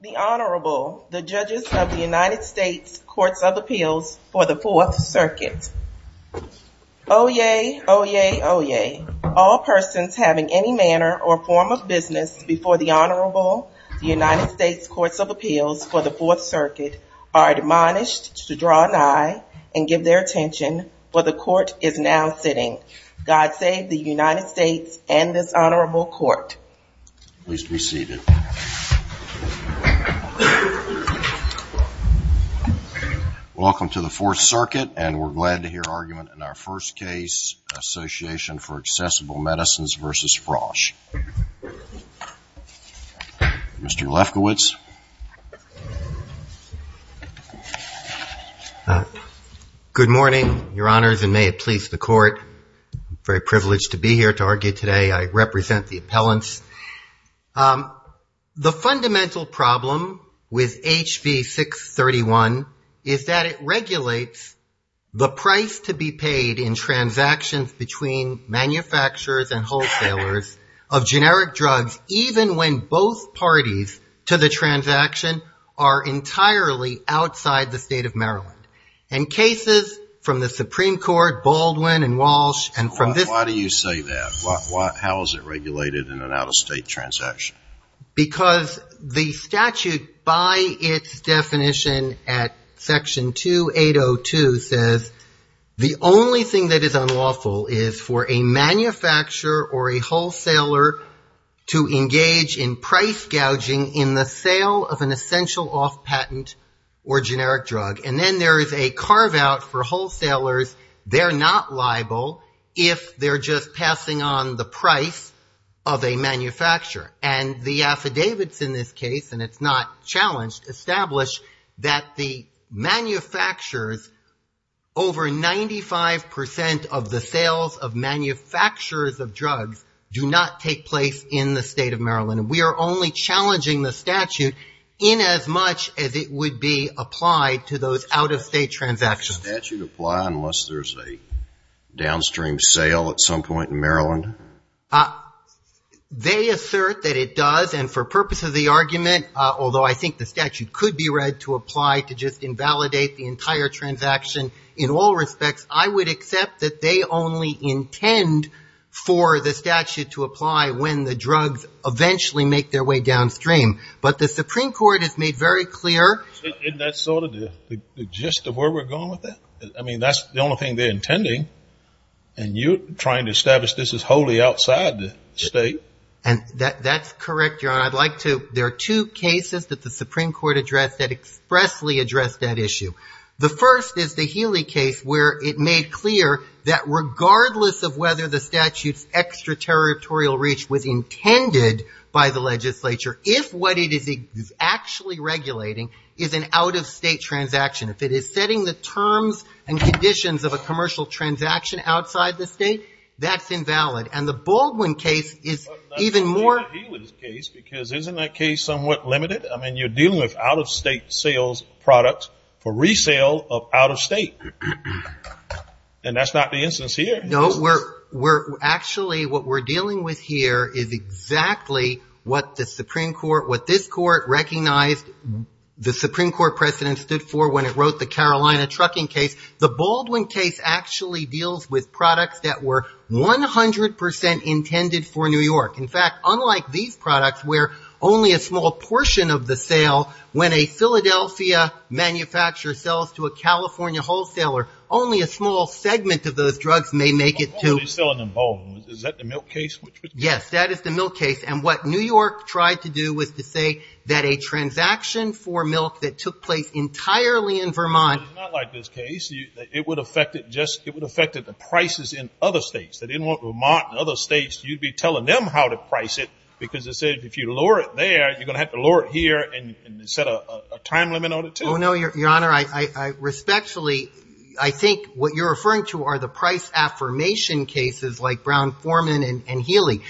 The Honorable, the Judges of the United States Courts of Appeals for the Fourth Circuit. Oyez! Oyez! Oyez! All persons having any manner or form of business before the Honorable, the United States Courts of Appeals for the Fourth Circuit are admonished to draw an eye and give their attention, for the Court is now sitting. God save the United States and this Honorable Court. Please be seated. Welcome to the Fourth Circuit, and we're glad to hear argument in our first case, Association for Accessible Medicines v. Frosh. Mr. Lefkowitz. Good morning, Your Honors, and may it please the Court. I'm very privileged to be here to argue today. I represent the appellants. The fundamental problem with HB 631 is that it regulates the price to be paid in transactions between manufacturers and wholesalers of generic drugs, even when both parties to the transaction are entirely outside the State of Maryland. And cases from the Supreme Court, Baldwin and Walsh, and from this — Why do you say that? How is it regulated in an out-of-state transaction? Because the statute, by its definition at Section 2802, says the only thing that is unlawful is for a manufacturer or a wholesaler to engage in price gouging in the sale of an essential off-patent or generic drug. And then there is a carve-out for wholesalers. They're not liable if they're just passing on the price of a manufacturer. And the affidavits in this case, and it's not challenged, establish that the manufacturers, over 95 percent of the sales of manufacturers of drugs do not take place in the State of Maryland. We are only challenging the statute in as much as it would be applied to those out-of-state transactions. Does the statute apply unless there's a downstream sale at some point in Maryland? They assert that it does. And for purposes of the argument, although I think the statute could be read to apply to just invalidate the entire transaction in all respects, I would accept that they only intend for the statute to apply when the drugs eventually make their way downstream. But the Supreme Court has made very clear — Isn't that sort of the gist of where we're going with that? I mean, that's the only thing they're intending, and you're trying to establish this is wholly outside the State. And that's correct, Your Honor. I'd like to — there are two cases that the Supreme Court addressed that expressly addressed that issue. The first is the Healy case, where it made clear that regardless of whether the statute's extraterritorial reach was intended by the legislature, if what it is actually regulating is an out-of-state transaction, if it is setting the terms and conditions of a commercial transaction outside the state, that's invalid. And the Baldwin case is even more — I believe the Healy case, because isn't that case somewhat limited? I mean, you're dealing with out-of-state sales products for resale of out-of-state. And that's not the instance here. No, we're — actually, what we're dealing with here is exactly what the Supreme Court — what this Court recognized the Supreme Court precedent stood for when it wrote the Carolina trucking case. The Baldwin case actually deals with products that were 100 percent intended for New York. In fact, unlike these products, where only a small portion of the sale, when a Philadelphia manufacturer sells to a California wholesaler, only a small segment of those drugs may make it to — They're selling in Baldwin. Is that the milk case? Yes, that is the milk case. And what New York tried to do was to say that a transaction for milk that took place entirely in Vermont — But it's not like this case. It would affect it just — it would affect the prices in other states. If they didn't want Vermont and other states, you'd be telling them how to price it because it said if you lower it there, you're going to have to lower it here and set a time limit on it, too. Oh, no, Your Honor. I respectfully — I think what you're referring to are the price affirmation cases like Brown-Forman and Healy.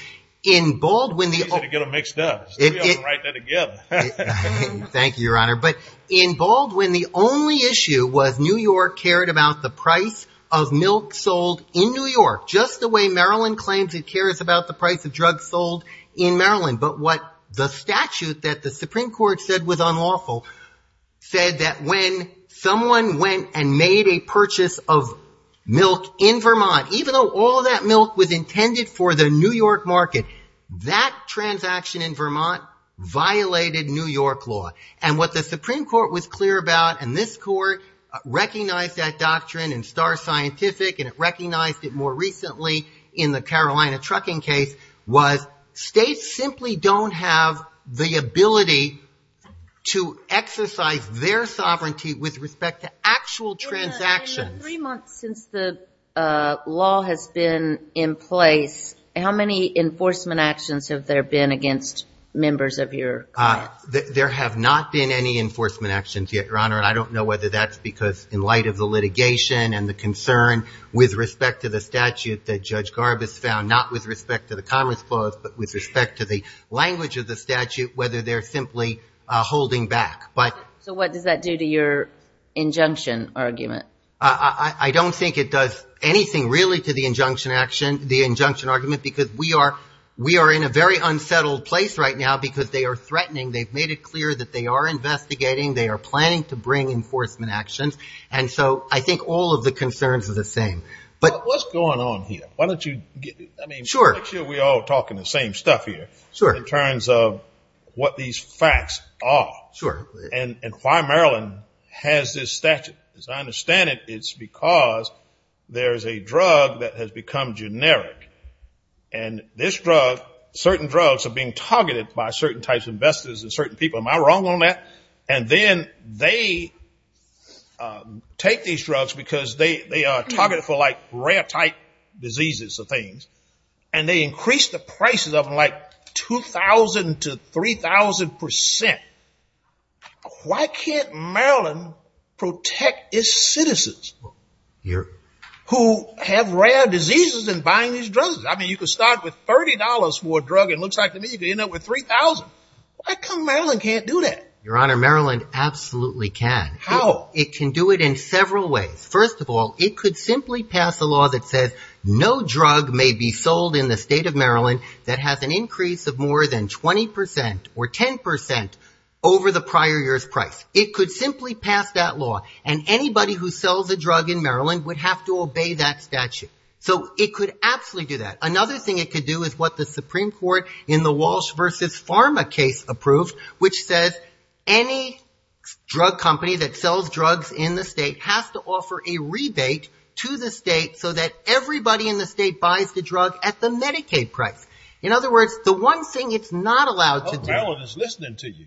In Baldwin, the — It's easier to get them mixed up. We ought to write that together. Thank you, Your Honor. But in Baldwin, the only issue was New York cared about the price of milk sold in New York, just the way Maryland claims it cares about the price of drugs sold in Maryland. But what the statute that the Supreme Court said was unlawful said that when someone went and made a purchase of milk in Vermont, even though all that milk was intended for the New York market, that transaction in Vermont violated New York law. And what the Supreme Court was clear about, and this court recognized that doctrine in Star Scientific, and it recognized it more recently in the Carolina trucking case, was states simply don't have the ability to exercise their sovereignty with respect to actual transactions. Your Honor, in the three months since the law has been in place, how many enforcement actions have there been against members of your court? There have not been any enforcement actions yet, Your Honor, and I don't know whether that's because in light of the litigation and the concern with respect to the statute that Judge Garbus found, not with respect to the Commerce Clause, but with respect to the language of the statute, whether they're simply holding back. So what does that do to your injunction argument? I don't think it does anything really to the injunction action, the injunction argument, because we are in a very unsettled place right now because they are threatening. They've made it clear that they are investigating. They are planning to bring enforcement actions. And so I think all of the concerns are the same. But what's going on here? Why don't you get it? Sure. We're all talking the same stuff here. Sure. In terms of what these facts are. Sure. And why Maryland has this statute. As I understand it, it's because there is a drug that has become generic. And this drug, certain drugs are being targeted by certain types of investors and certain people. Am I wrong on that? And then they take these drugs because they are targeted for like rare type diseases of things. And they increase the prices of them like 2,000 to 3,000 percent. Why can't Maryland protect its citizens who have rare diseases in buying these drugs? I mean, you could start with $30 for a drug and it looks like to me you could end up with 3,000. Why come Maryland can't do that? Your Honor, Maryland absolutely can. How? It can do it in several ways. First of all, it could simply pass a law that says no drug may be sold in the state of Maryland that has an increase of more than 20 percent or 10 percent over the prior year's price. It could simply pass that law. And anybody who sells a drug in Maryland would have to obey that statute. So it could absolutely do that. Another thing it could do is what the Supreme Court in the Walsh versus Pharma case approved, which says any drug company that sells drugs in the state has to offer a rebate to the state so that everybody in the state buys the drug at the Medicaid price. In other words, the one thing it's not allowed to do. Maryland is listening to you.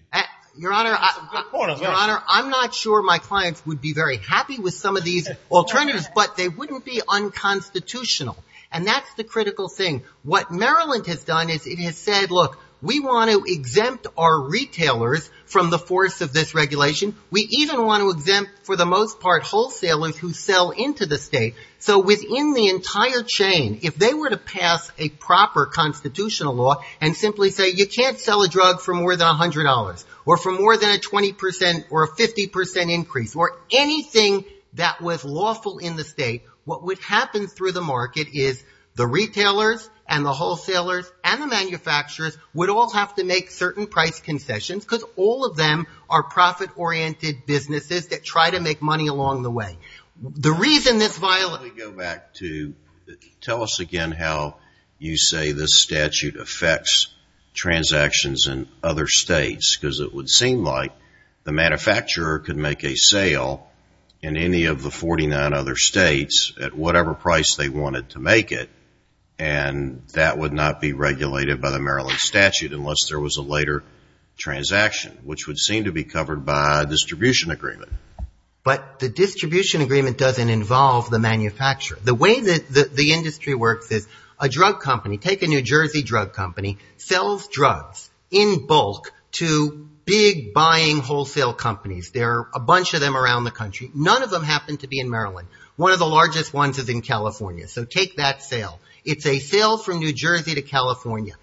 Your Honor, I'm not sure my clients would be very happy with some of these alternatives, but they wouldn't be unconstitutional. And that's the critical thing. What Maryland has done is it has said, look, we want to exempt our retailers from the force of this regulation. We even want to exempt for the most part wholesalers who sell into the state. So within the entire chain, if they were to pass a proper constitutional law and simply say you can't sell a drug for more than $100 or for more than a 20 percent or a 50 percent increase or anything that was lawful in the state, what would happen through the market is the retailers and the wholesalers and the manufacturers would all have to make certain price concessions because all of them are profit-oriented businesses that try to make money along the way. The reason this violation of the statute is that it's not a violation of the state's because it would seem like the manufacturer could make a sale in any of the 49 other states at whatever price they wanted to make it, and that would not be regulated by the Maryland statute unless there was a later transaction, which would seem to be covered by a distribution agreement. But the distribution agreement doesn't involve the manufacturer. The way that the industry works is a drug company, take a New Jersey drug company, sells drugs in bulk to big buying wholesale companies. There are a bunch of them around the country. None of them happen to be in Maryland. One of the largest ones is in California, so take that sale. It's a sale from New Jersey to California.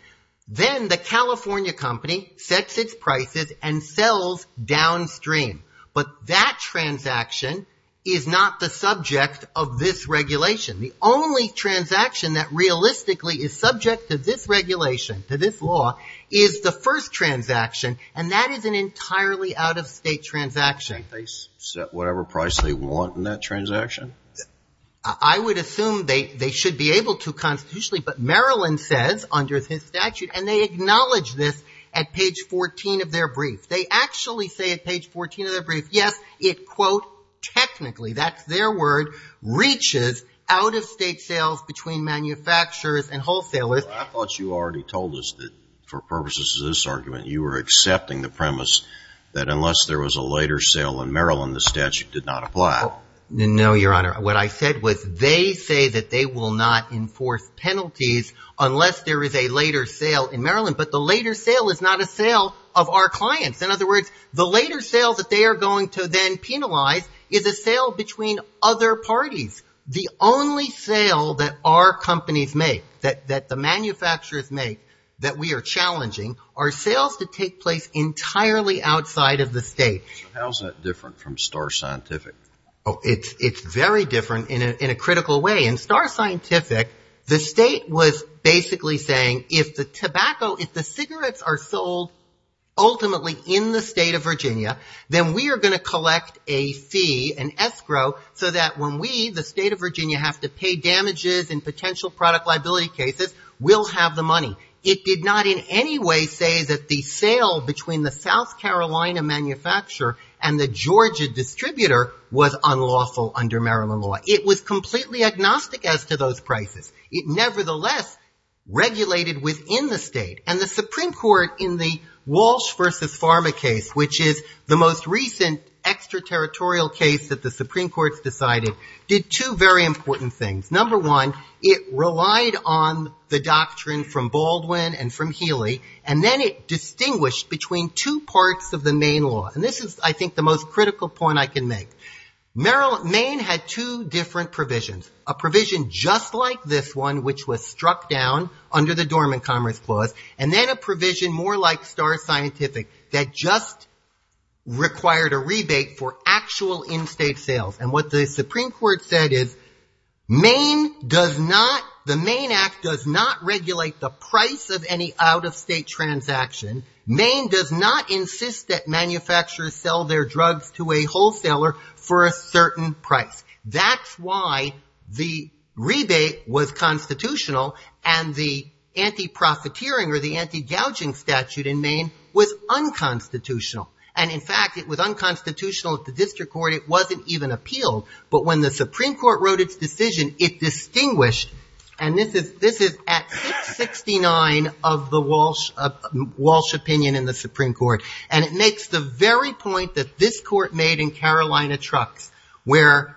Then the California company sets its prices and sells downstream, but that transaction is not the subject of this regulation. The only transaction that realistically is subject to this regulation, to this law, is the first transaction, and that is an entirely out-of-state transaction. They set whatever price they want in that transaction? I would assume they should be able to constitutionally, but Maryland says under this statute, and they acknowledge this at page 14 of their brief. They actually say at page 14 of their brief, yes, it, quote, technically, that's their word, reaches out-of-state sales between manufacturers and wholesalers. I thought you already told us that for purposes of this argument, you were accepting the premise that unless there was a later sale in Maryland, the statute did not apply. No, Your Honor. What I said was they say that they will not enforce penalties unless there is a later sale in Maryland, but the later sale is not a sale of our clients. In other words, the later sale that they are going to then penalize is a sale between other parties. The only sale that our companies make, that the manufacturers make, that we are challenging are sales that take place entirely outside of the state. How is that different from Star Scientific? It's very different in a critical way. In Star Scientific, the state was basically saying if the tobacco, if the cigarettes are sold ultimately in the state of Virginia, then we are going to collect a fee, an escrow, so that when we, the state of Virginia, have to pay damages in potential product liability cases, we'll have the money. It did not in any way say that the sale between the South Carolina manufacturer and the Georgia distributor was unlawful under Maryland law. It was completely agnostic as to those prices. It nevertheless regulated within the state. And the Supreme Court in the Walsh v. Pharma case, which is the most recent extraterritorial case that the Supreme Court has decided, did two very important things. Number one, it relied on the doctrine from Baldwin and from Healy, and then it distinguished between two parts of the Maine law. And this is, I think, the most critical point I can make. Maine had two different provisions, a provision just like this one, which was struck down under the Dormant Commerce Clause, and then a provision more like Star Scientific that just required a rebate for actual in-state sales. And what the Supreme Court said is Maine does not, the Maine Act does not regulate the price of any out-of-state transaction. Maine does not insist that manufacturers sell their drugs to a wholesaler for a certain price. That's why the rebate was constitutional and the anti-profiteering or the anti-gouging statute in Maine was unconstitutional. And, in fact, it was unconstitutional at the district court. It wasn't even appealed. But when the Supreme Court wrote its decision, it distinguished, and this is at 669 of the Walsh opinion in the Supreme Court, and it makes the very point that this court made in Carolina Trucks, where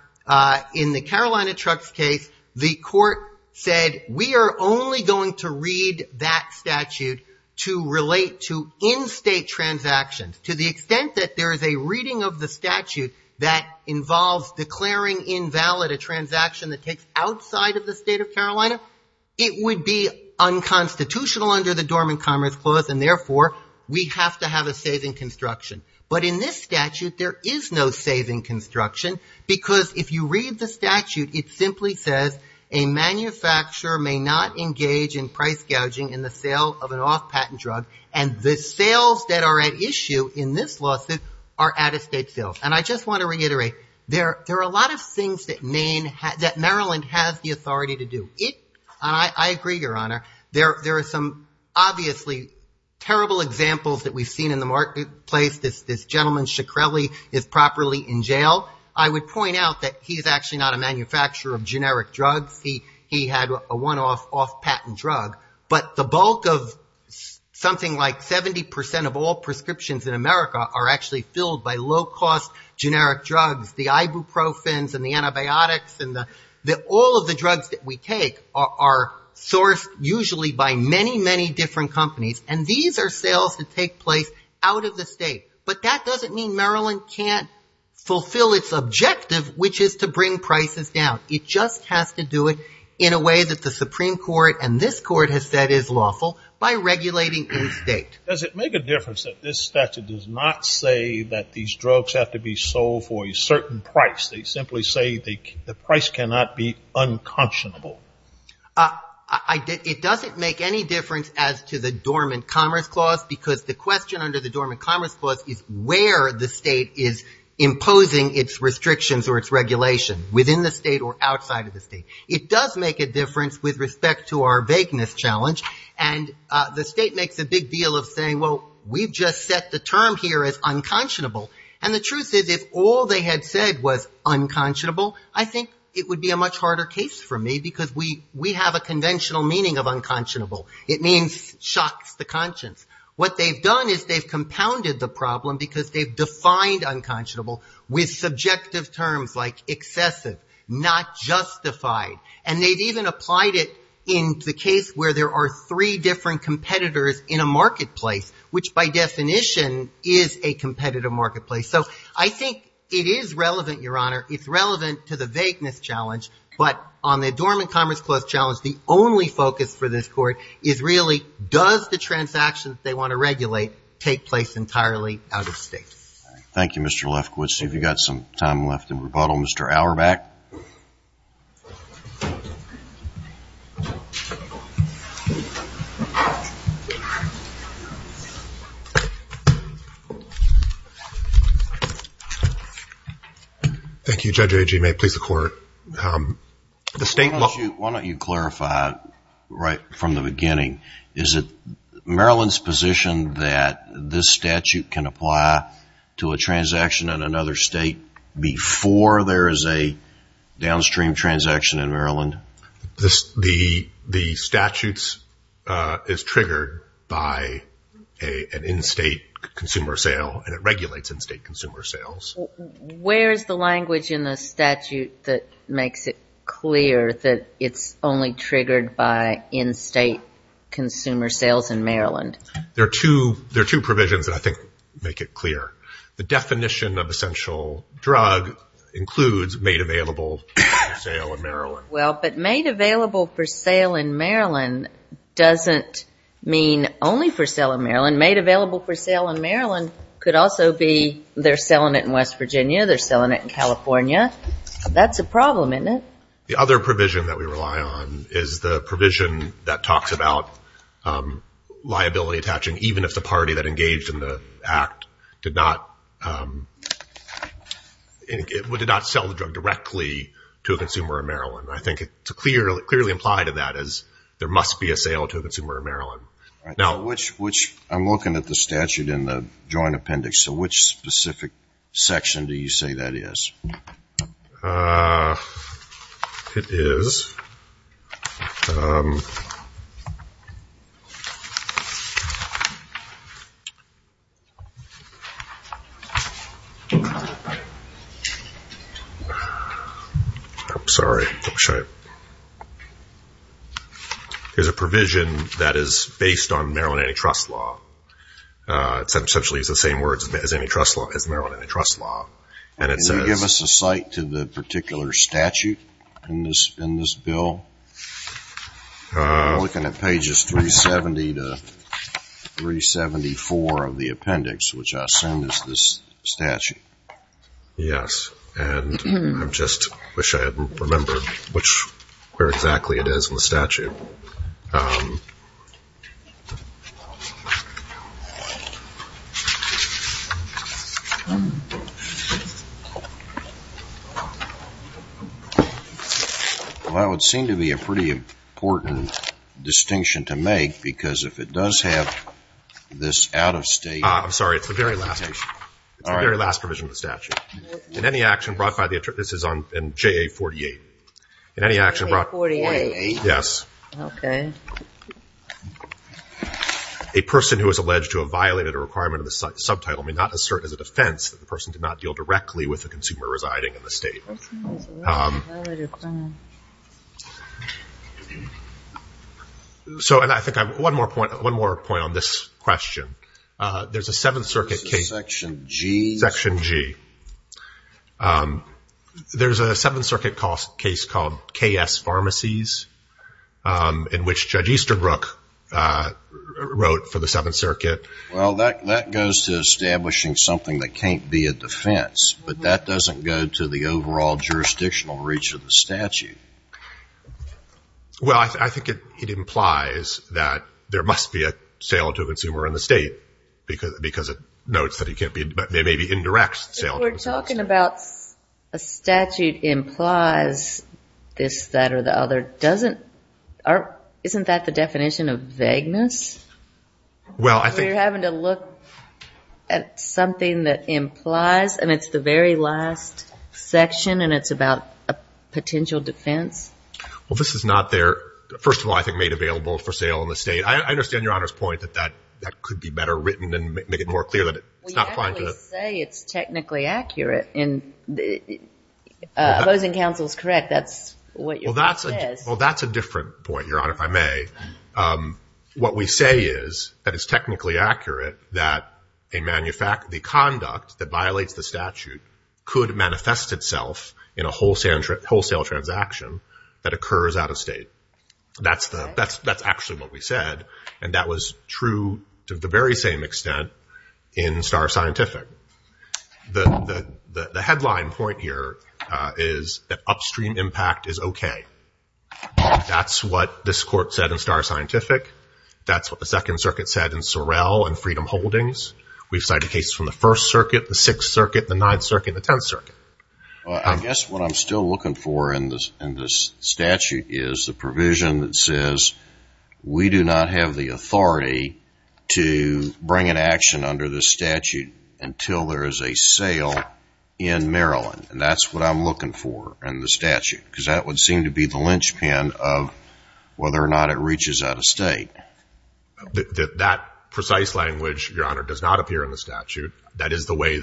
in the Carolina Trucks case, the court said, we are only going to read that statute to relate to in-state transactions to the extent that there is a reading of the statute that involves declaring invalid a transaction that takes outside of the state of Carolina, it would be unconstitutional under the Dormant Commerce Clause, and therefore we have to have a saving construction. But in this statute, there is no saving construction, because if you read the statute, it simply says a manufacturer may not engage in price gouging in the sale of an off-patent drug, and the sales that are at issue in this lawsuit are out-of-state sales. And I just want to reiterate, there are a lot of things that Maryland has the authority to do. I agree, Your Honor. There are some obviously terrible examples that we've seen in the marketplace. This gentleman, Shkreli, is properly in jail. I would point out that he is actually not a manufacturer of generic drugs. He had a one-off off-patent drug. But the bulk of something like 70% of all prescriptions in America are actually filled by low-cost generic drugs. The ibuprofens and the antibiotics and all of the drugs that we take are sourced usually by many, many different companies, and these are sales that take place out-of-the-state. But that doesn't mean Maryland can't fulfill its objective, which is to bring prices down. It just has to do it in a way that the Supreme Court and this Court has said is lawful by regulating in-state. Does it make a difference that this statute does not say that these drugs have to be sold for a certain price? They simply say the price cannot be unconscionable. It doesn't make any difference as to the Dormant Commerce Clause because the question under the Dormant Commerce Clause is where the state is imposing its restrictions or its regulation, within the state or outside of the state. It does make a difference with respect to our vagueness challenge, and the state makes a big deal of saying, well, we've just set the term here as unconscionable, and the truth is if all they had said was unconscionable, I think it would be a much harder case for me because we have a conventional meaning of unconscionable. It means shocks the conscience. What they've done is they've compounded the problem because they've defined unconscionable with subjective terms like excessive, not justified, and they've even applied it in the case where there are three different competitors in a marketplace, which by definition is a competitive marketplace. So I think it is relevant, Your Honor. It's relevant to the vagueness challenge, but on the Dormant Commerce Clause challenge, the only focus for this Court is really, does the transaction they want to regulate take place entirely out of state? Thank you, Mr. Lefkowitz. If you've got some time left in rebuttal, Mr. Auerbach. Thank you, Judge Agee. May it please the Court. The state law... Why don't you clarify right from the beginning? Is it Maryland's position that this statute can apply to a transaction in another state Yes, Your Honor. I think that's a good question. downstream transaction in Maryland. The statute is triggered by an in-state consumer sale, and it regulates in-state consumer sales. Where is the language in the statute that makes it clear that it's only triggered by in-state consumer sales in Maryland? There are two provisions that I think make it clear. The definition of essential drug includes made available for sale in Maryland. Well, but made available for sale in Maryland doesn't mean only for sale in Maryland. Made available for sale in Maryland could also be they're selling it in West Virginia, they're selling it in California. That's a problem, isn't it? The other provision that we rely on is the provision that talks about liability attaching, even if the party that engaged in the act did not sell the drug directly to a consumer in Maryland. I think it's clearly implied in that as there must be a sale to a consumer in Maryland. I'm looking at the statute in the Joint Appendix, so which specific section do you say that is? It is... I'm sorry, don't show it. There's a provision that is based on Maryland antitrust law. Essentially it's the same words as Maryland antitrust law. And it says... Can you give us a cite to the particular statute in this bill? I'm looking at pages 370 to 375. 374 of the appendix, which I assume is this statute. Yes, and I just wish I had remembered where exactly it is in the statute. That would seem to be a pretty important distinction to make because if it does have this out-of-state... I'm sorry, it's the very last. It's the very last provision of the statute. In any action brought by the... This is on JA 48. In any action brought... JA 48? Yes. Okay. A person who is alleged to have violated a requirement of the subtitle may not assert as a defense that the person did not deal directly with a consumer residing in the state. A person who has violated a requirement... So I think I have one more point on this question. There's a Seventh Circuit case... Section G. Section G. There's a Seventh Circuit case called KS Pharmacies in which Judge Easterbrook wrote for the Seventh Circuit... Well, that goes to establishing something that can't be a defense, but that doesn't go to the overall jurisdictional reach of the statute. Well, I think it implies that there must be a sale to a consumer in the state because it notes that it may be indirect sale to a consumer. If we're talking about a statute implies this, that, or the other, isn't that the definition of vagueness? Well, I think... You're having to look at something that implies, and it's the very last section, and it's about a potential defense. Well, this is not there, first of all, I think, made available for sale in the state. I understand Your Honor's point that that could be better written and make it more clear that it's not... Well, you actually say it's technically accurate. Opposing counsel is correct. That's what your point is. Well, that's a different point, Your Honor, if I may. What we say is that it's technically accurate that the conduct that violates the statute could manifest itself in a wholesale transaction that occurs out of state. That's actually what we said, and that was true to the very same extent in Starr Scientific. The headline point here is that upstream impact is okay. That's what this court said in Starr Scientific. That's what the Second Circuit said in Sorrell and Freedom Holdings. We've cited cases from the First Circuit, the Sixth Circuit, the Ninth Circuit, the Tenth Circuit. I guess what I'm still looking for in this statute is the provision that says we do not have the authority to bring an action under this statute until there is a sale in Maryland, and that's what I'm looking for in the statute because that would seem to be the linchpin of whether or not it reaches out of state. That precise language, Your Honor, does not appear in the statute. That is the way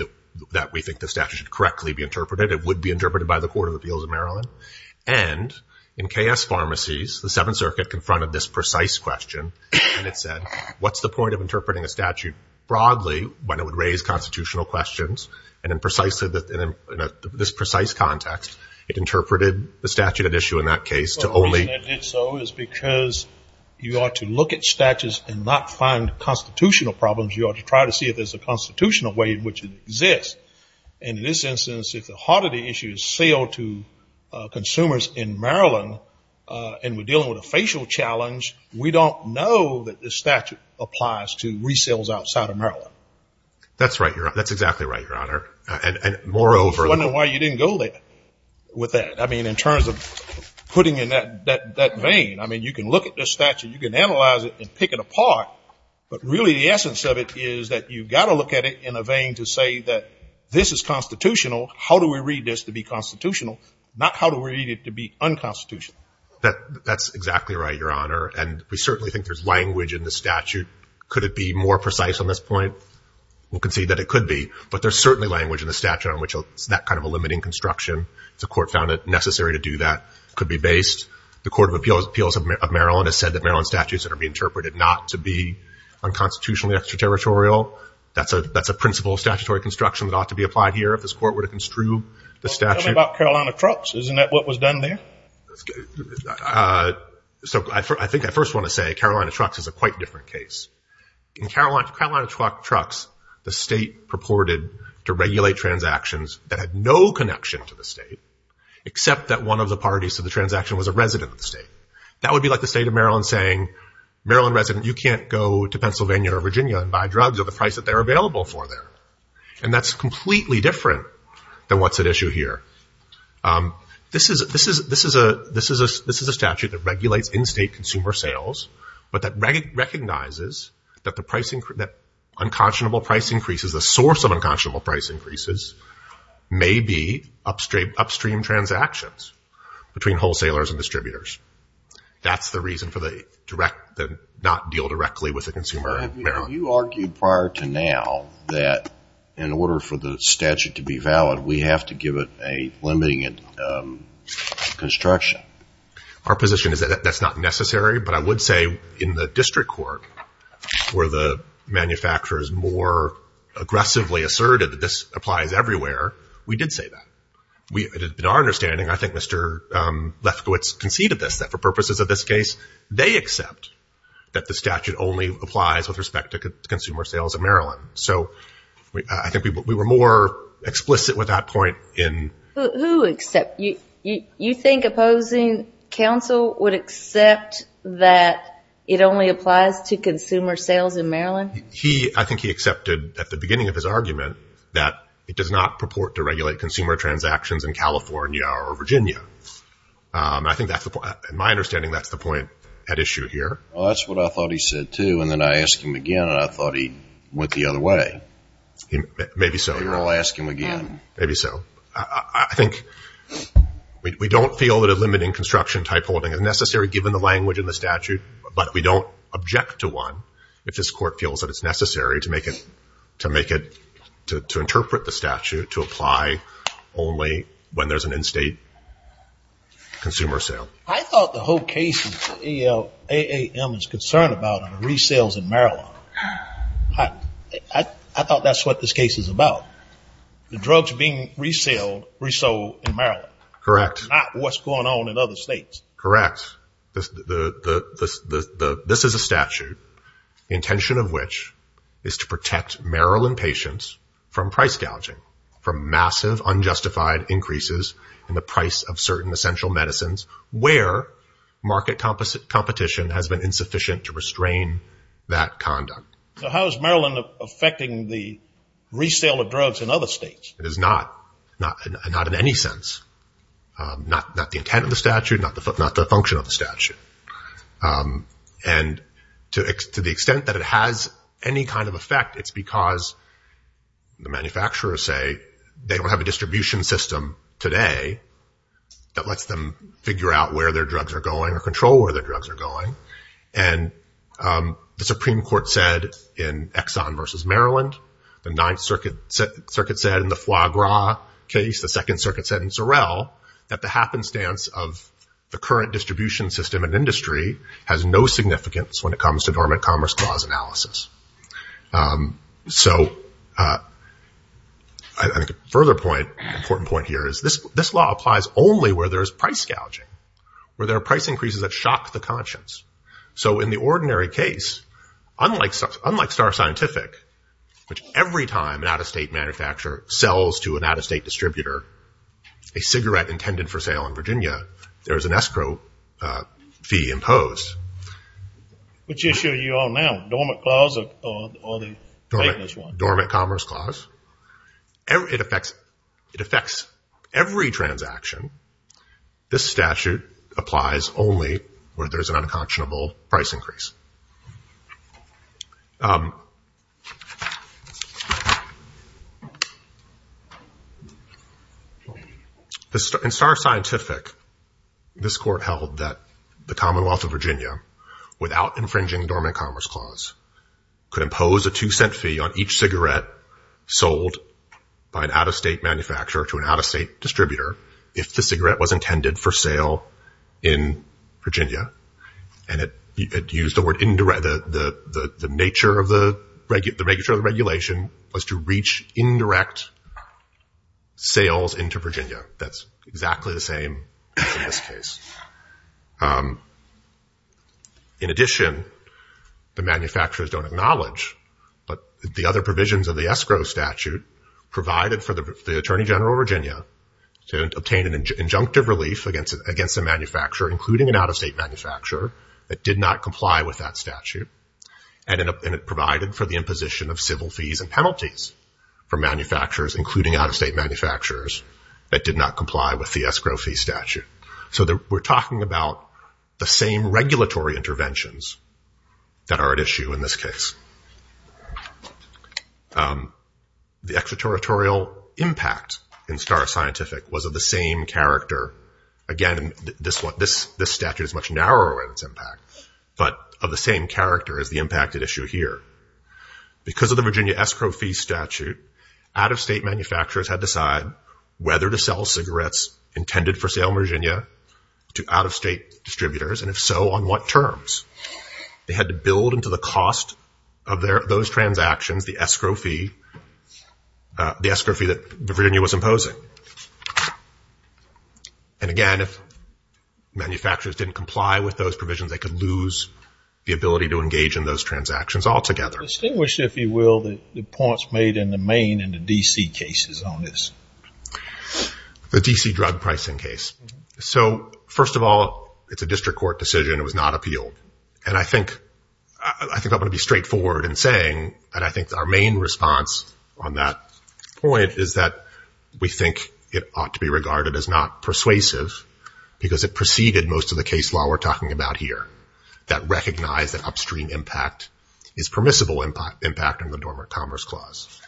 that we think the statute should correctly be interpreted. It would be interpreted by the Court of Appeals in Maryland, and in KS Pharmacies, the Seventh Circuit confronted this precise question, and it said what's the point of interpreting a statute broadly when it would raise constitutional questions, and in this precise context, it interpreted the statute at issue in that case to only The reason it did so is because you ought to look at statutes and not find constitutional problems. You ought to try to see if there's a constitutional way in which it exists, and in this instance, if the heart of the issue is sale to consumers in Maryland and we're dealing with a facial challenge, we don't know that this statute applies to resales outside of Maryland. That's right, Your Honor. That's exactly right, Your Honor, and moreover... I was wondering why you didn't go there with that. I mean, in terms of putting in that vein, I mean, you can look at this statute, you can analyze it and pick it apart, but really the essence of it is that you've got to look at it in a vein to say that this is constitutional, how do we read this to be constitutional, not how do we read it to be unconstitutional. That's exactly right, Your Honor, and we certainly think there's language in the statute. Could it be more precise on this point? We'll concede that it could be, but there's certainly language in the statute on that kind of a limiting construction. The court found it necessary to do that. It could be based. The Court of Appeals of Maryland has said that Maryland statutes that are being interpreted not to be unconstitutionally extraterritorial. That's a principle of statutory construction that ought to be applied here if this court were to construe the statute. Tell me about Carolina Trucks. Isn't that what was done there? So I think I first want to say Carolina Trucks is a quite different case. In Carolina Trucks, the state purported to regulate transactions that had no connection to the state, except that one of the parties to the transaction was a resident of the state. That would be like the state of Maryland saying, Maryland resident, you can't go to Pennsylvania or Virginia and buy drugs at the price that they're available for there, and that's completely different than what's at issue here. This is a statute that regulates in-state consumer sales, but that recognizes that unconscionable price increases, the source of unconscionable price increases, may be upstream transactions between wholesalers and distributors. That's the reason for the not deal directly with the consumer in Maryland. You argued prior to now that in order for the statute to be valid, we have to give it a limiting construction. Our position is that that's not necessary, but I would say in the district court where the manufacturer is more aggressively asserted that this applies everywhere, we did say that. In our understanding, I think Mr. Lefkowitz conceded this, that for purposes of this case, they accept that the statute only applies with respect to consumer sales in Maryland. So I think we were more explicit with that point in. Who accept? You think opposing counsel would accept that it only applies to consumer sales in Maryland? I think he accepted at the beginning of his argument that it does not purport to regulate consumer transactions in California or Virginia. I think that's the point. In my understanding, that's the point at issue here. Well, that's what I thought he said, too, and then I asked him again and I thought he went the other way. Maybe so. You're all asking again. Maybe so. I think we don't feel that a limiting construction type holding is necessary given the language in the statute, but we don't object to one if this court feels that it's necessary to make it, to interpret the statute, to apply only when there's an in-state consumer sale. I thought the whole case that AAM is concerned about on resales in Maryland, I thought that's what this case is about. The drugs being resold in Maryland. Correct. Not what's going on in other states. Correct. This is a statute, the intention of which is to protect Maryland patients from price gouging, from massive unjustified increases in the price of certain essential medicines where market competition has been insufficient to restrain that conduct. So how is Maryland affecting the resale of drugs in other states? It is not. Not in any sense. Not the intent of the statute, not the function of the statute. And to the extent that it has any kind of effect, it's because the manufacturers say they don't have a distribution system today that lets them figure out where their drugs are going or control where their drugs are going. And the Supreme Court said in Exxon versus Maryland, the Ninth Circuit said in the Foie Gras case, the Second Circuit said in Sorrel, that the happenstance of the current distribution system and industry has no significance when it comes to dormant commerce clause analysis. So I think a further point, important point here is this law applies only where there's price gouging, where there are price increases that shock the conscience. So in the ordinary case, unlike Star Scientific, which every time an out-of-state manufacturer sells to an out-of-state distributor a cigarette intended for sale in Virginia, there is an escrow fee imposed. Which issue are you on now? Dormant clause or the maintenance one? Dormant commerce clause. It affects every transaction. This statute applies only where there's an unconscionable price increase. In Star Scientific, this court held that the Commonwealth of Virginia, without infringing dormant commerce clause, could impose a two cent fee on each cigarette sold by an out-of-state manufacturer to an out-of-state distributor if the cigarette was intended for sale in Virginia. And it used the word indirect, the nature of the regulation was to reach indirect sales into Virginia. That's exactly the same in this case. In addition, the manufacturers don't acknowledge, but the other provisions of the escrow statute provided for the Attorney General of Virginia to obtain an injunctive relief against a manufacturer, including an out-of-state manufacturer, that did not comply with that statute. And it provided for the imposition of civil fees and penalties for manufacturers, including out-of-state manufacturers, that did not comply with the escrow fee statute. So we're talking about the same regulatory interventions that are at issue in this case. The extraterritorial impact in Star Scientific was of the same character. Again, this statute is much narrower in its impact, but of the same character as the impacted issue here. Because of the Virginia escrow fee statute, out-of-state manufacturers had to decide whether to sell cigarettes intended for sale in Virginia to out-of-state distributors, and if so, on what terms. They had to build into the cost of those transactions the escrow fee, the escrow fee that Virginia was imposing. And again, if manufacturers didn't comply with those provisions, they could lose the ability to engage in those transactions altogether. Distinguish, if you will, the points made in the main and the D.C. cases on this. The D.C. drug pricing case. So, first of all, it's a district court decision. It was not appealed. And I think I'm going to be straightforward in saying that I think our main response on that point is that we think it ought to be regarded as not persuasive because it preceded most of the case law we're talking about here that recognized that upstream impact is permissible impact under the Dormant Commerce Clause.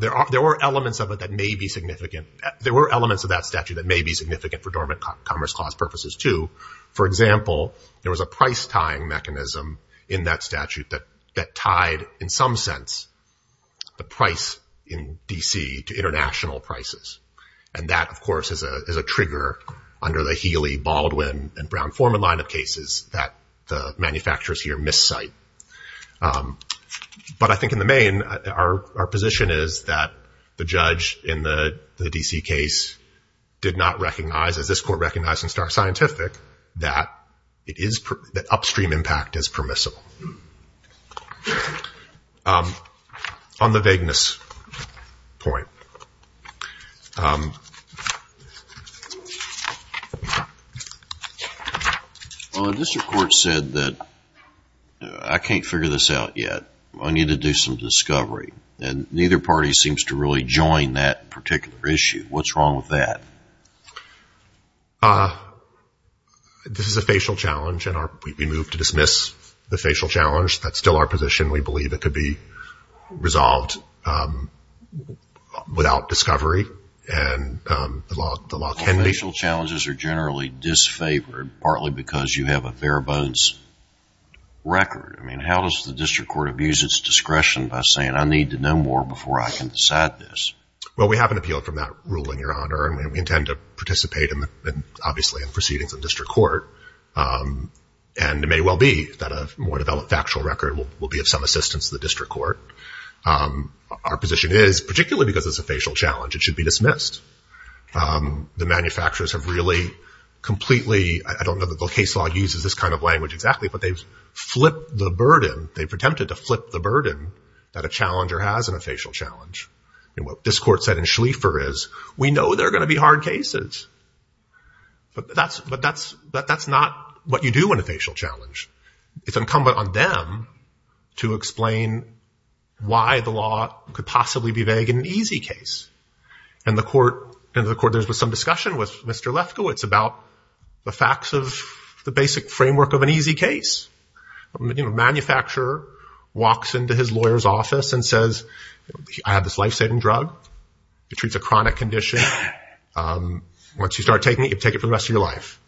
There were elements of it that may be significant. There were elements of that statute that may be significant for Dormant Commerce Clause purposes, too. For example, there was a price tying mechanism in that statute that tied, in some sense, the price in D.C. to international prices. And that, of course, is a trigger under the Healey, Baldwin, and Brown-Forman line of cases that the manufacturers here miscite. But I think in the main, our position is that the judge in the D.C. case did not recognize, as this Court recognized in Star Scientific, that upstream impact is permissible. On the vagueness point. Well, the district court said that I can't figure this out yet. I need to do some discovery. And neither party seems to really join that particular issue. What's wrong with that? This is a facial challenge, and we move to dismiss the facial challenge. That's still our position. We believe it could be resolved without discovery, and the law can be. Facial challenges are generally disfavored, partly because you have a fair bones record. I mean, how does the district court abuse its discretion by saying, I need to know more before I can decide this? Well, we have an appeal from that ruling, Your Honor, and we intend to participate, obviously, in proceedings in district court. And it may well be that a more developed factual record will be of some assistance to the district court. Our position is, particularly because it's a facial challenge, it should be dismissed. The manufacturers have really completely, I don't know that the case law uses this kind of language exactly, but they've flipped the burden. They've attempted to flip the burden that a challenger has in a facial challenge. And what this court said in Schlieffer is, we know there are going to be hard cases, but that's not what you do in a facial challenge. It's incumbent on them to explain why the law could possibly be vague in an easy case. And the court, there was some discussion with Mr. Lefkowitz about the facts of the basic framework of an easy case. A manufacturer walks into his lawyer's office and says, I have this life-saving drug. It treats a chronic condition. Once you start taking it, you take it for the rest of your life.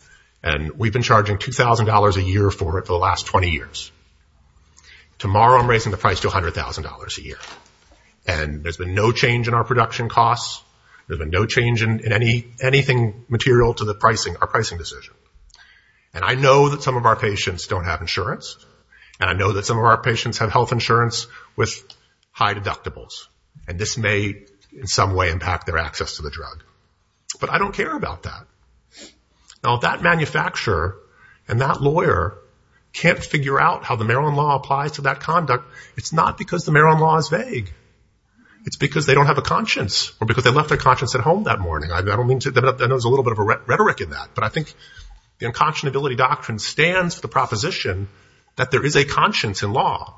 And we've been charging $2,000 a year for it for the last 20 years. Tomorrow I'm raising the price to $100,000 a year. And there's been no change in our production costs. There's been no change in anything material to our pricing decision. And I know that some of our patients don't have insurance. And I know that some of our patients have health insurance with high deductibles. And this may in some way impact their access to the drug. But I don't care about that. Now if that manufacturer and that lawyer can't figure out how the Maryland law applies to that conduct, it's not because the Maryland law is vague. It's because they don't have a conscience or because they left their conscience at home that morning. I know there's a little bit of a rhetoric in that. But I think the unconscionability doctrine stands for the proposition that there is a conscience in law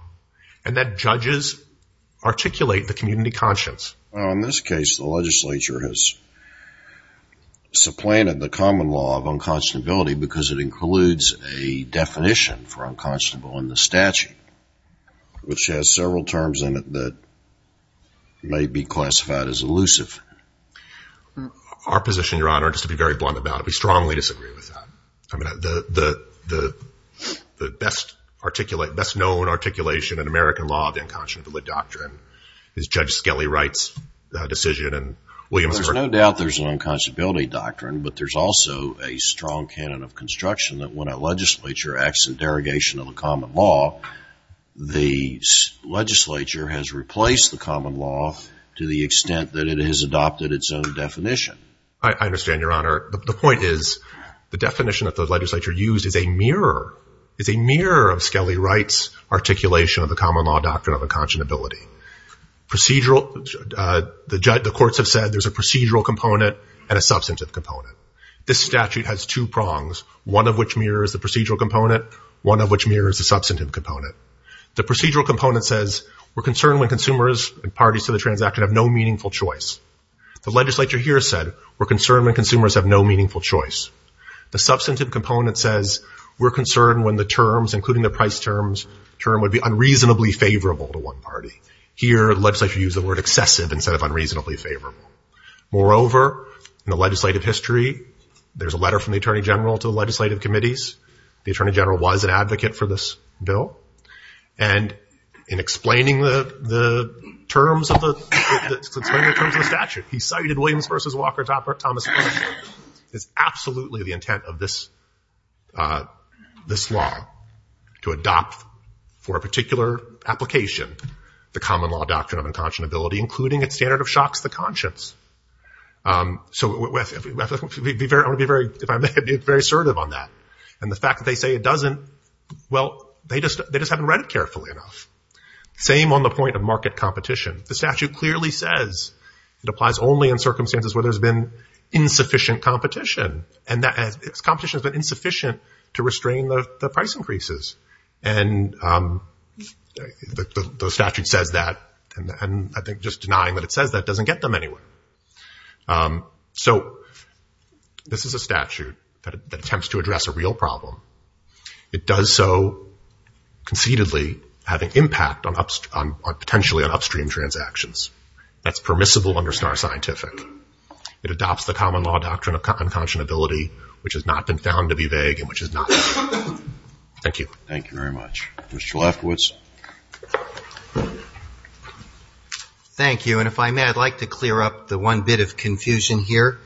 and that judges articulate the community conscience. Well, in this case, the legislature has supplanted the common law of unconscionability because it includes a definition for unconscionable in the statute, which has several terms in it that may be classified as elusive. Our position, Your Honor, just to be very blunt about it, we strongly disagree with that. The best known articulation in American law of the unconscionability doctrine is Judge Skelly Wright's decision and Williamsburg. There's no doubt there's an unconscionability doctrine, but there's also a strong canon of construction that when a legislature acts in derogation of a common law, the legislature has replaced the common law to the extent that it is adopted its own definition. I understand, Your Honor. The point is the definition of the legislature used is a mirror, is a mirror of Skelly Wright's articulation of the common law doctrine of unconscionability. The courts have said there's a procedural component and a substantive component. This statute has two prongs, one of which mirrors the procedural component, one of which mirrors the substantive component. The procedural component says we're concerned when consumers and parties to the transaction have no meaningful choice. The legislature here said we're concerned when consumers have no meaningful choice. The substantive component says we're concerned when the terms, including the price terms, term would be unreasonably favorable to one party. Here the legislature used the word excessive instead of unreasonably favorable. Moreover, in the legislative history, there's a letter from the Attorney General to the legislative committees. The Attorney General was an advocate for this bill. And in explaining the terms of the statute, he cited Williams v. Walker, Thomas, is absolutely the intent of this law to adopt for a particular application the common law doctrine of unconscionability, including its standard of shocks the conscience. So I want to be very assertive on that. And the fact that they say it doesn't, well, they just haven't read it carefully enough. Same on the point of market competition. The statute clearly says it applies only in circumstances where there's been insufficient competition. And that competition has been insufficient to restrain the price increases. And the statute says that, and I think just denying that it says that doesn't get them anywhere. So this is a statute that attempts to address a real problem. It does so concededly having impact on potentially on upstream transactions. That's permissible under SNAR scientific. It adopts the common law doctrine of unconscionability, which has not been found to be vague and which is not. Thank you. Thank you very much. Mr. Lefkowitz. Thank you. And if I may, I'd like to clear up the one bit of confusion here.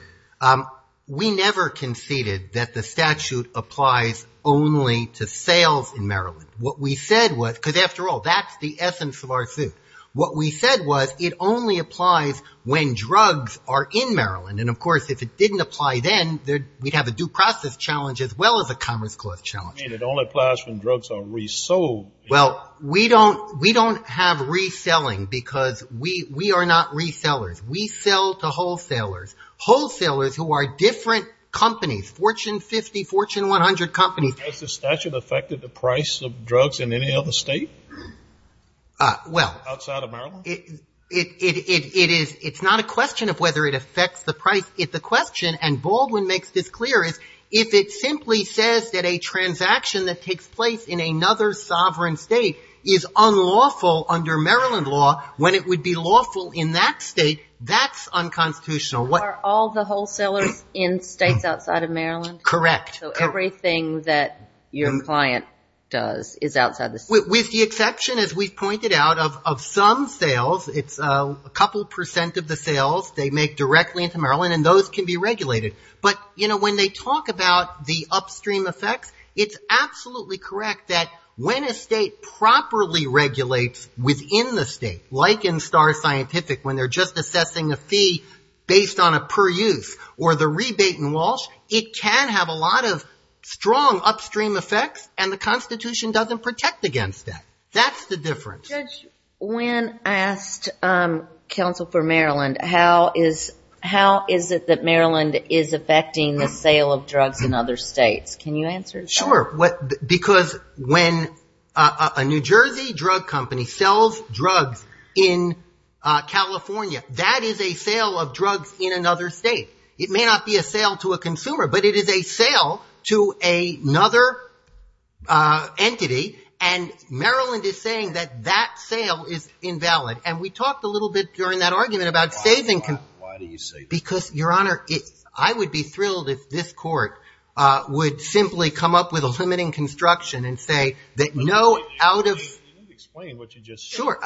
We never conceded that the statute applies only to sales in Maryland. What we said was, because after all, that's the essence of our suit. What we said was it only applies when drugs are in Maryland. And of course, if it didn't apply then, we'd have a due process challenge as well as a commerce clause challenge. It only applies when drugs are resold. Well, we don't have reselling because we are not resellers. We sell to wholesalers. Wholesalers who are different companies, Fortune 50, Fortune 100 companies. Has the statute affected the price of drugs in any other state? Well. Outside of Maryland? It is. It's not a question of whether it affects the price. The question, and Baldwin makes this clear, is if it simply says that a transaction that takes place in another sovereign state is unlawful under Maryland law, when it would be lawful in that state, that's unconstitutional. Are all the wholesalers in states outside of Maryland? Correct. So everything that your client does is outside the state. With the exception, as we've pointed out, of some sales, it's a couple percent of the sales they make directly into Maryland, and those can be regulated. But when they talk about the upstream effects, it's absolutely correct that when a state properly regulates within the state, like in Star Scientific, when they're just assessing a fee based on a per use or the rebate in Walsh, it can have a lot of strong upstream effects, and the Constitution doesn't protect against that. That's the difference. Judge, when I asked counsel for Maryland, how is it that Maryland is affecting the sale of drugs in other states? Can you answer that? Sure. Because when a New Jersey drug company sells drugs in California, that is a sale of drugs in another state. It may not be a sale to a consumer, but it is a sale to another entity, and Maryland is saying that that sale is invalid. And we talked a little bit during that argument about saving. Why do you say that? Because, Your Honor, I would be thrilled if this court would simply come up with a limiting construction and say that no out of ---- Explain what you just said. Sure.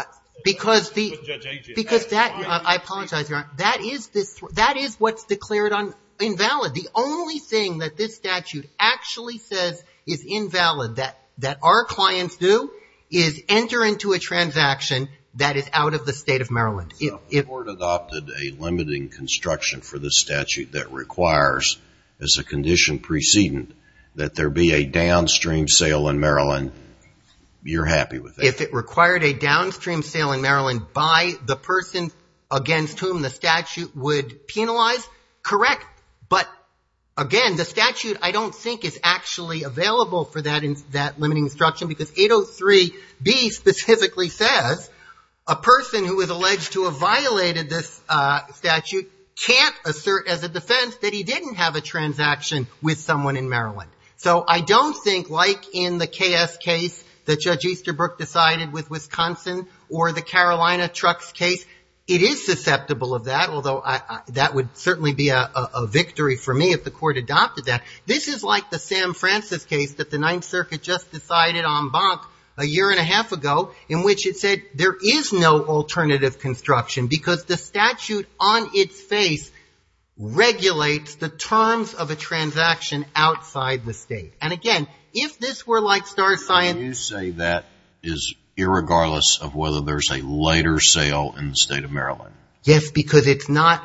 Because that, I apologize, Your Honor, that is what's declared invalid. The only thing that this statute actually says is invalid, that our clients do, is enter into a transaction that is out of the state of Maryland. So if the court adopted a limiting construction for this statute that requires as a condition precedent that there be a downstream sale in Maryland, you're happy with that? If it required a downstream sale in Maryland by the person against whom the statute would penalize, correct. But, again, the statute I don't think is actually available for that limiting construction because 803B specifically says a person who is alleged to have violated this statute can't assert as a defense that he didn't have a transaction with someone in Maryland. So I don't think like in the KS case that Judge Easterbrook decided with Wisconsin or the Carolina trucks case, it is susceptible of that, although that would certainly be a victory for me if the court adopted that. This is like the Sam Francis case that the Ninth Circuit just decided en banc a year and a half ago in which it said there is no alternative construction because the statute on its face regulates the terms of a transaction outside the state. And, again, if this were like star sign. You say that is irregardless of whether there's a later sale in the state of Maryland. Yes, because it's not,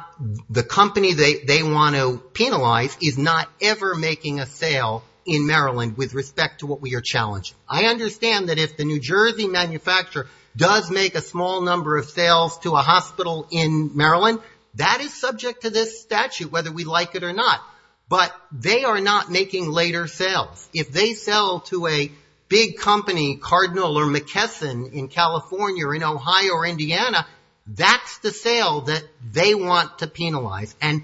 the company they want to penalize is not ever making a sale in Maryland with respect to what we are challenging. I understand that if the New Jersey manufacturer does make a small number of sales to a hospital in Maryland, that is subject to this statute whether we like it or not. But they are not making later sales. If they sell to a big company, Cardinal or McKesson in California or in Ohio or Indiana, that's the sale that they want to penalize. And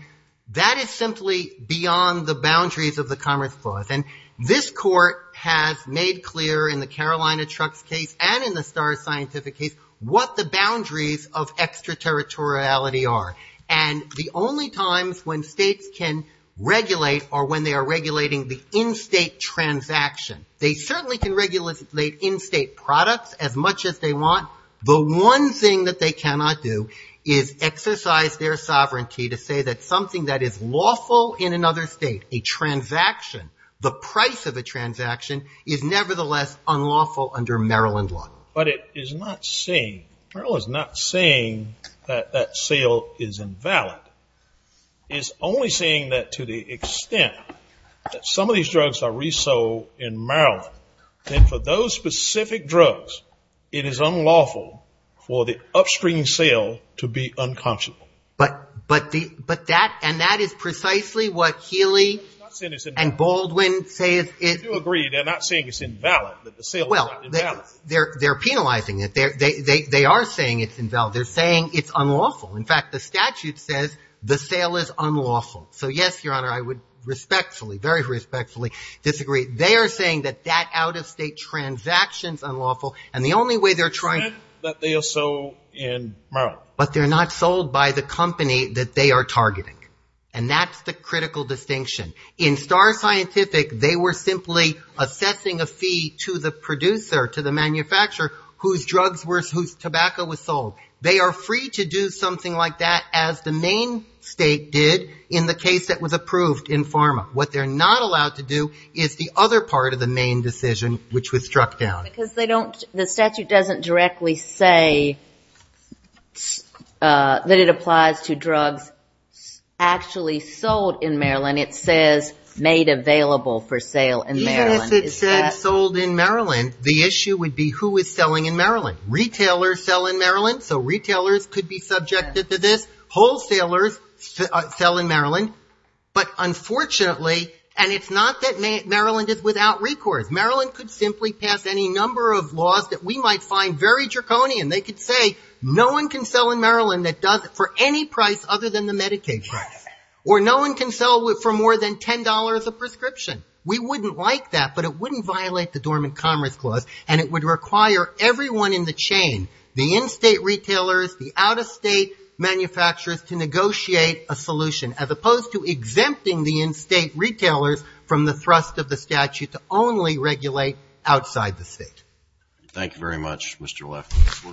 that is simply beyond the boundaries of the Commerce Clause. And this court has made clear in the Carolina trucks case and in the star scientific case what the boundaries of extraterritoriality are. And the only times when states can regulate or when they are regulating the in-state transaction, they certainly can regulate in-state products as much as they want. The one thing that they cannot do is exercise their sovereignty to say that something that is lawful in another state, a transaction, the price of a transaction is nevertheless unlawful under Maryland law. But it is not saying, Maryland is not saying that that sale is invalid. It's only saying that to the extent that some of these drugs are resold in Maryland, then for those specific drugs it is unlawful for the upstream sale to be unconscionable. But that, and that is precisely what Healy and Baldwin say is. I do agree. They're not saying it's invalid, that the sale is not invalid. Well, they're penalizing it. They are saying it's invalid. They're saying it's unlawful. In fact, the statute says the sale is unlawful. So yes, Your Honor, I would respectfully, very respectfully disagree. They are saying that that out-of-state transaction is unlawful. And the only way they're trying to. The extent that they are sold in Maryland. But they're not sold by the company that they are targeting. And that's the critical distinction. In Star Scientific, they were simply assessing a fee to the producer, to the manufacturer, whose drugs were, whose tobacco was sold. They are free to do something like that as the main state did in the case that was approved in pharma. What they're not allowed to do is the other part of the main decision, which was struck down. Because they don't, the statute doesn't directly say that it applies to drugs actually sold in Maryland. It says made available for sale in Maryland. Even if it said sold in Maryland, the issue would be who is selling in Maryland. Retailers sell in Maryland, so retailers could be subjected to this. Wholesalers sell in Maryland. But unfortunately, and it's not that Maryland is without recourse. Maryland could simply pass any number of laws that we might find very draconian. They could say no one can sell in Maryland that does it for any price other than the Medicaid price. Or no one can sell for more than $10 a prescription. We wouldn't like that, but it wouldn't violate the Dormant Commerce Clause. And it would require everyone in the chain, the in-state retailers, the out-of-state manufacturers to negotiate a solution, as opposed to exempting the in-state retailers from the thrust of the statute to only regulate outside the state. Thank you very much, Mr. Leff.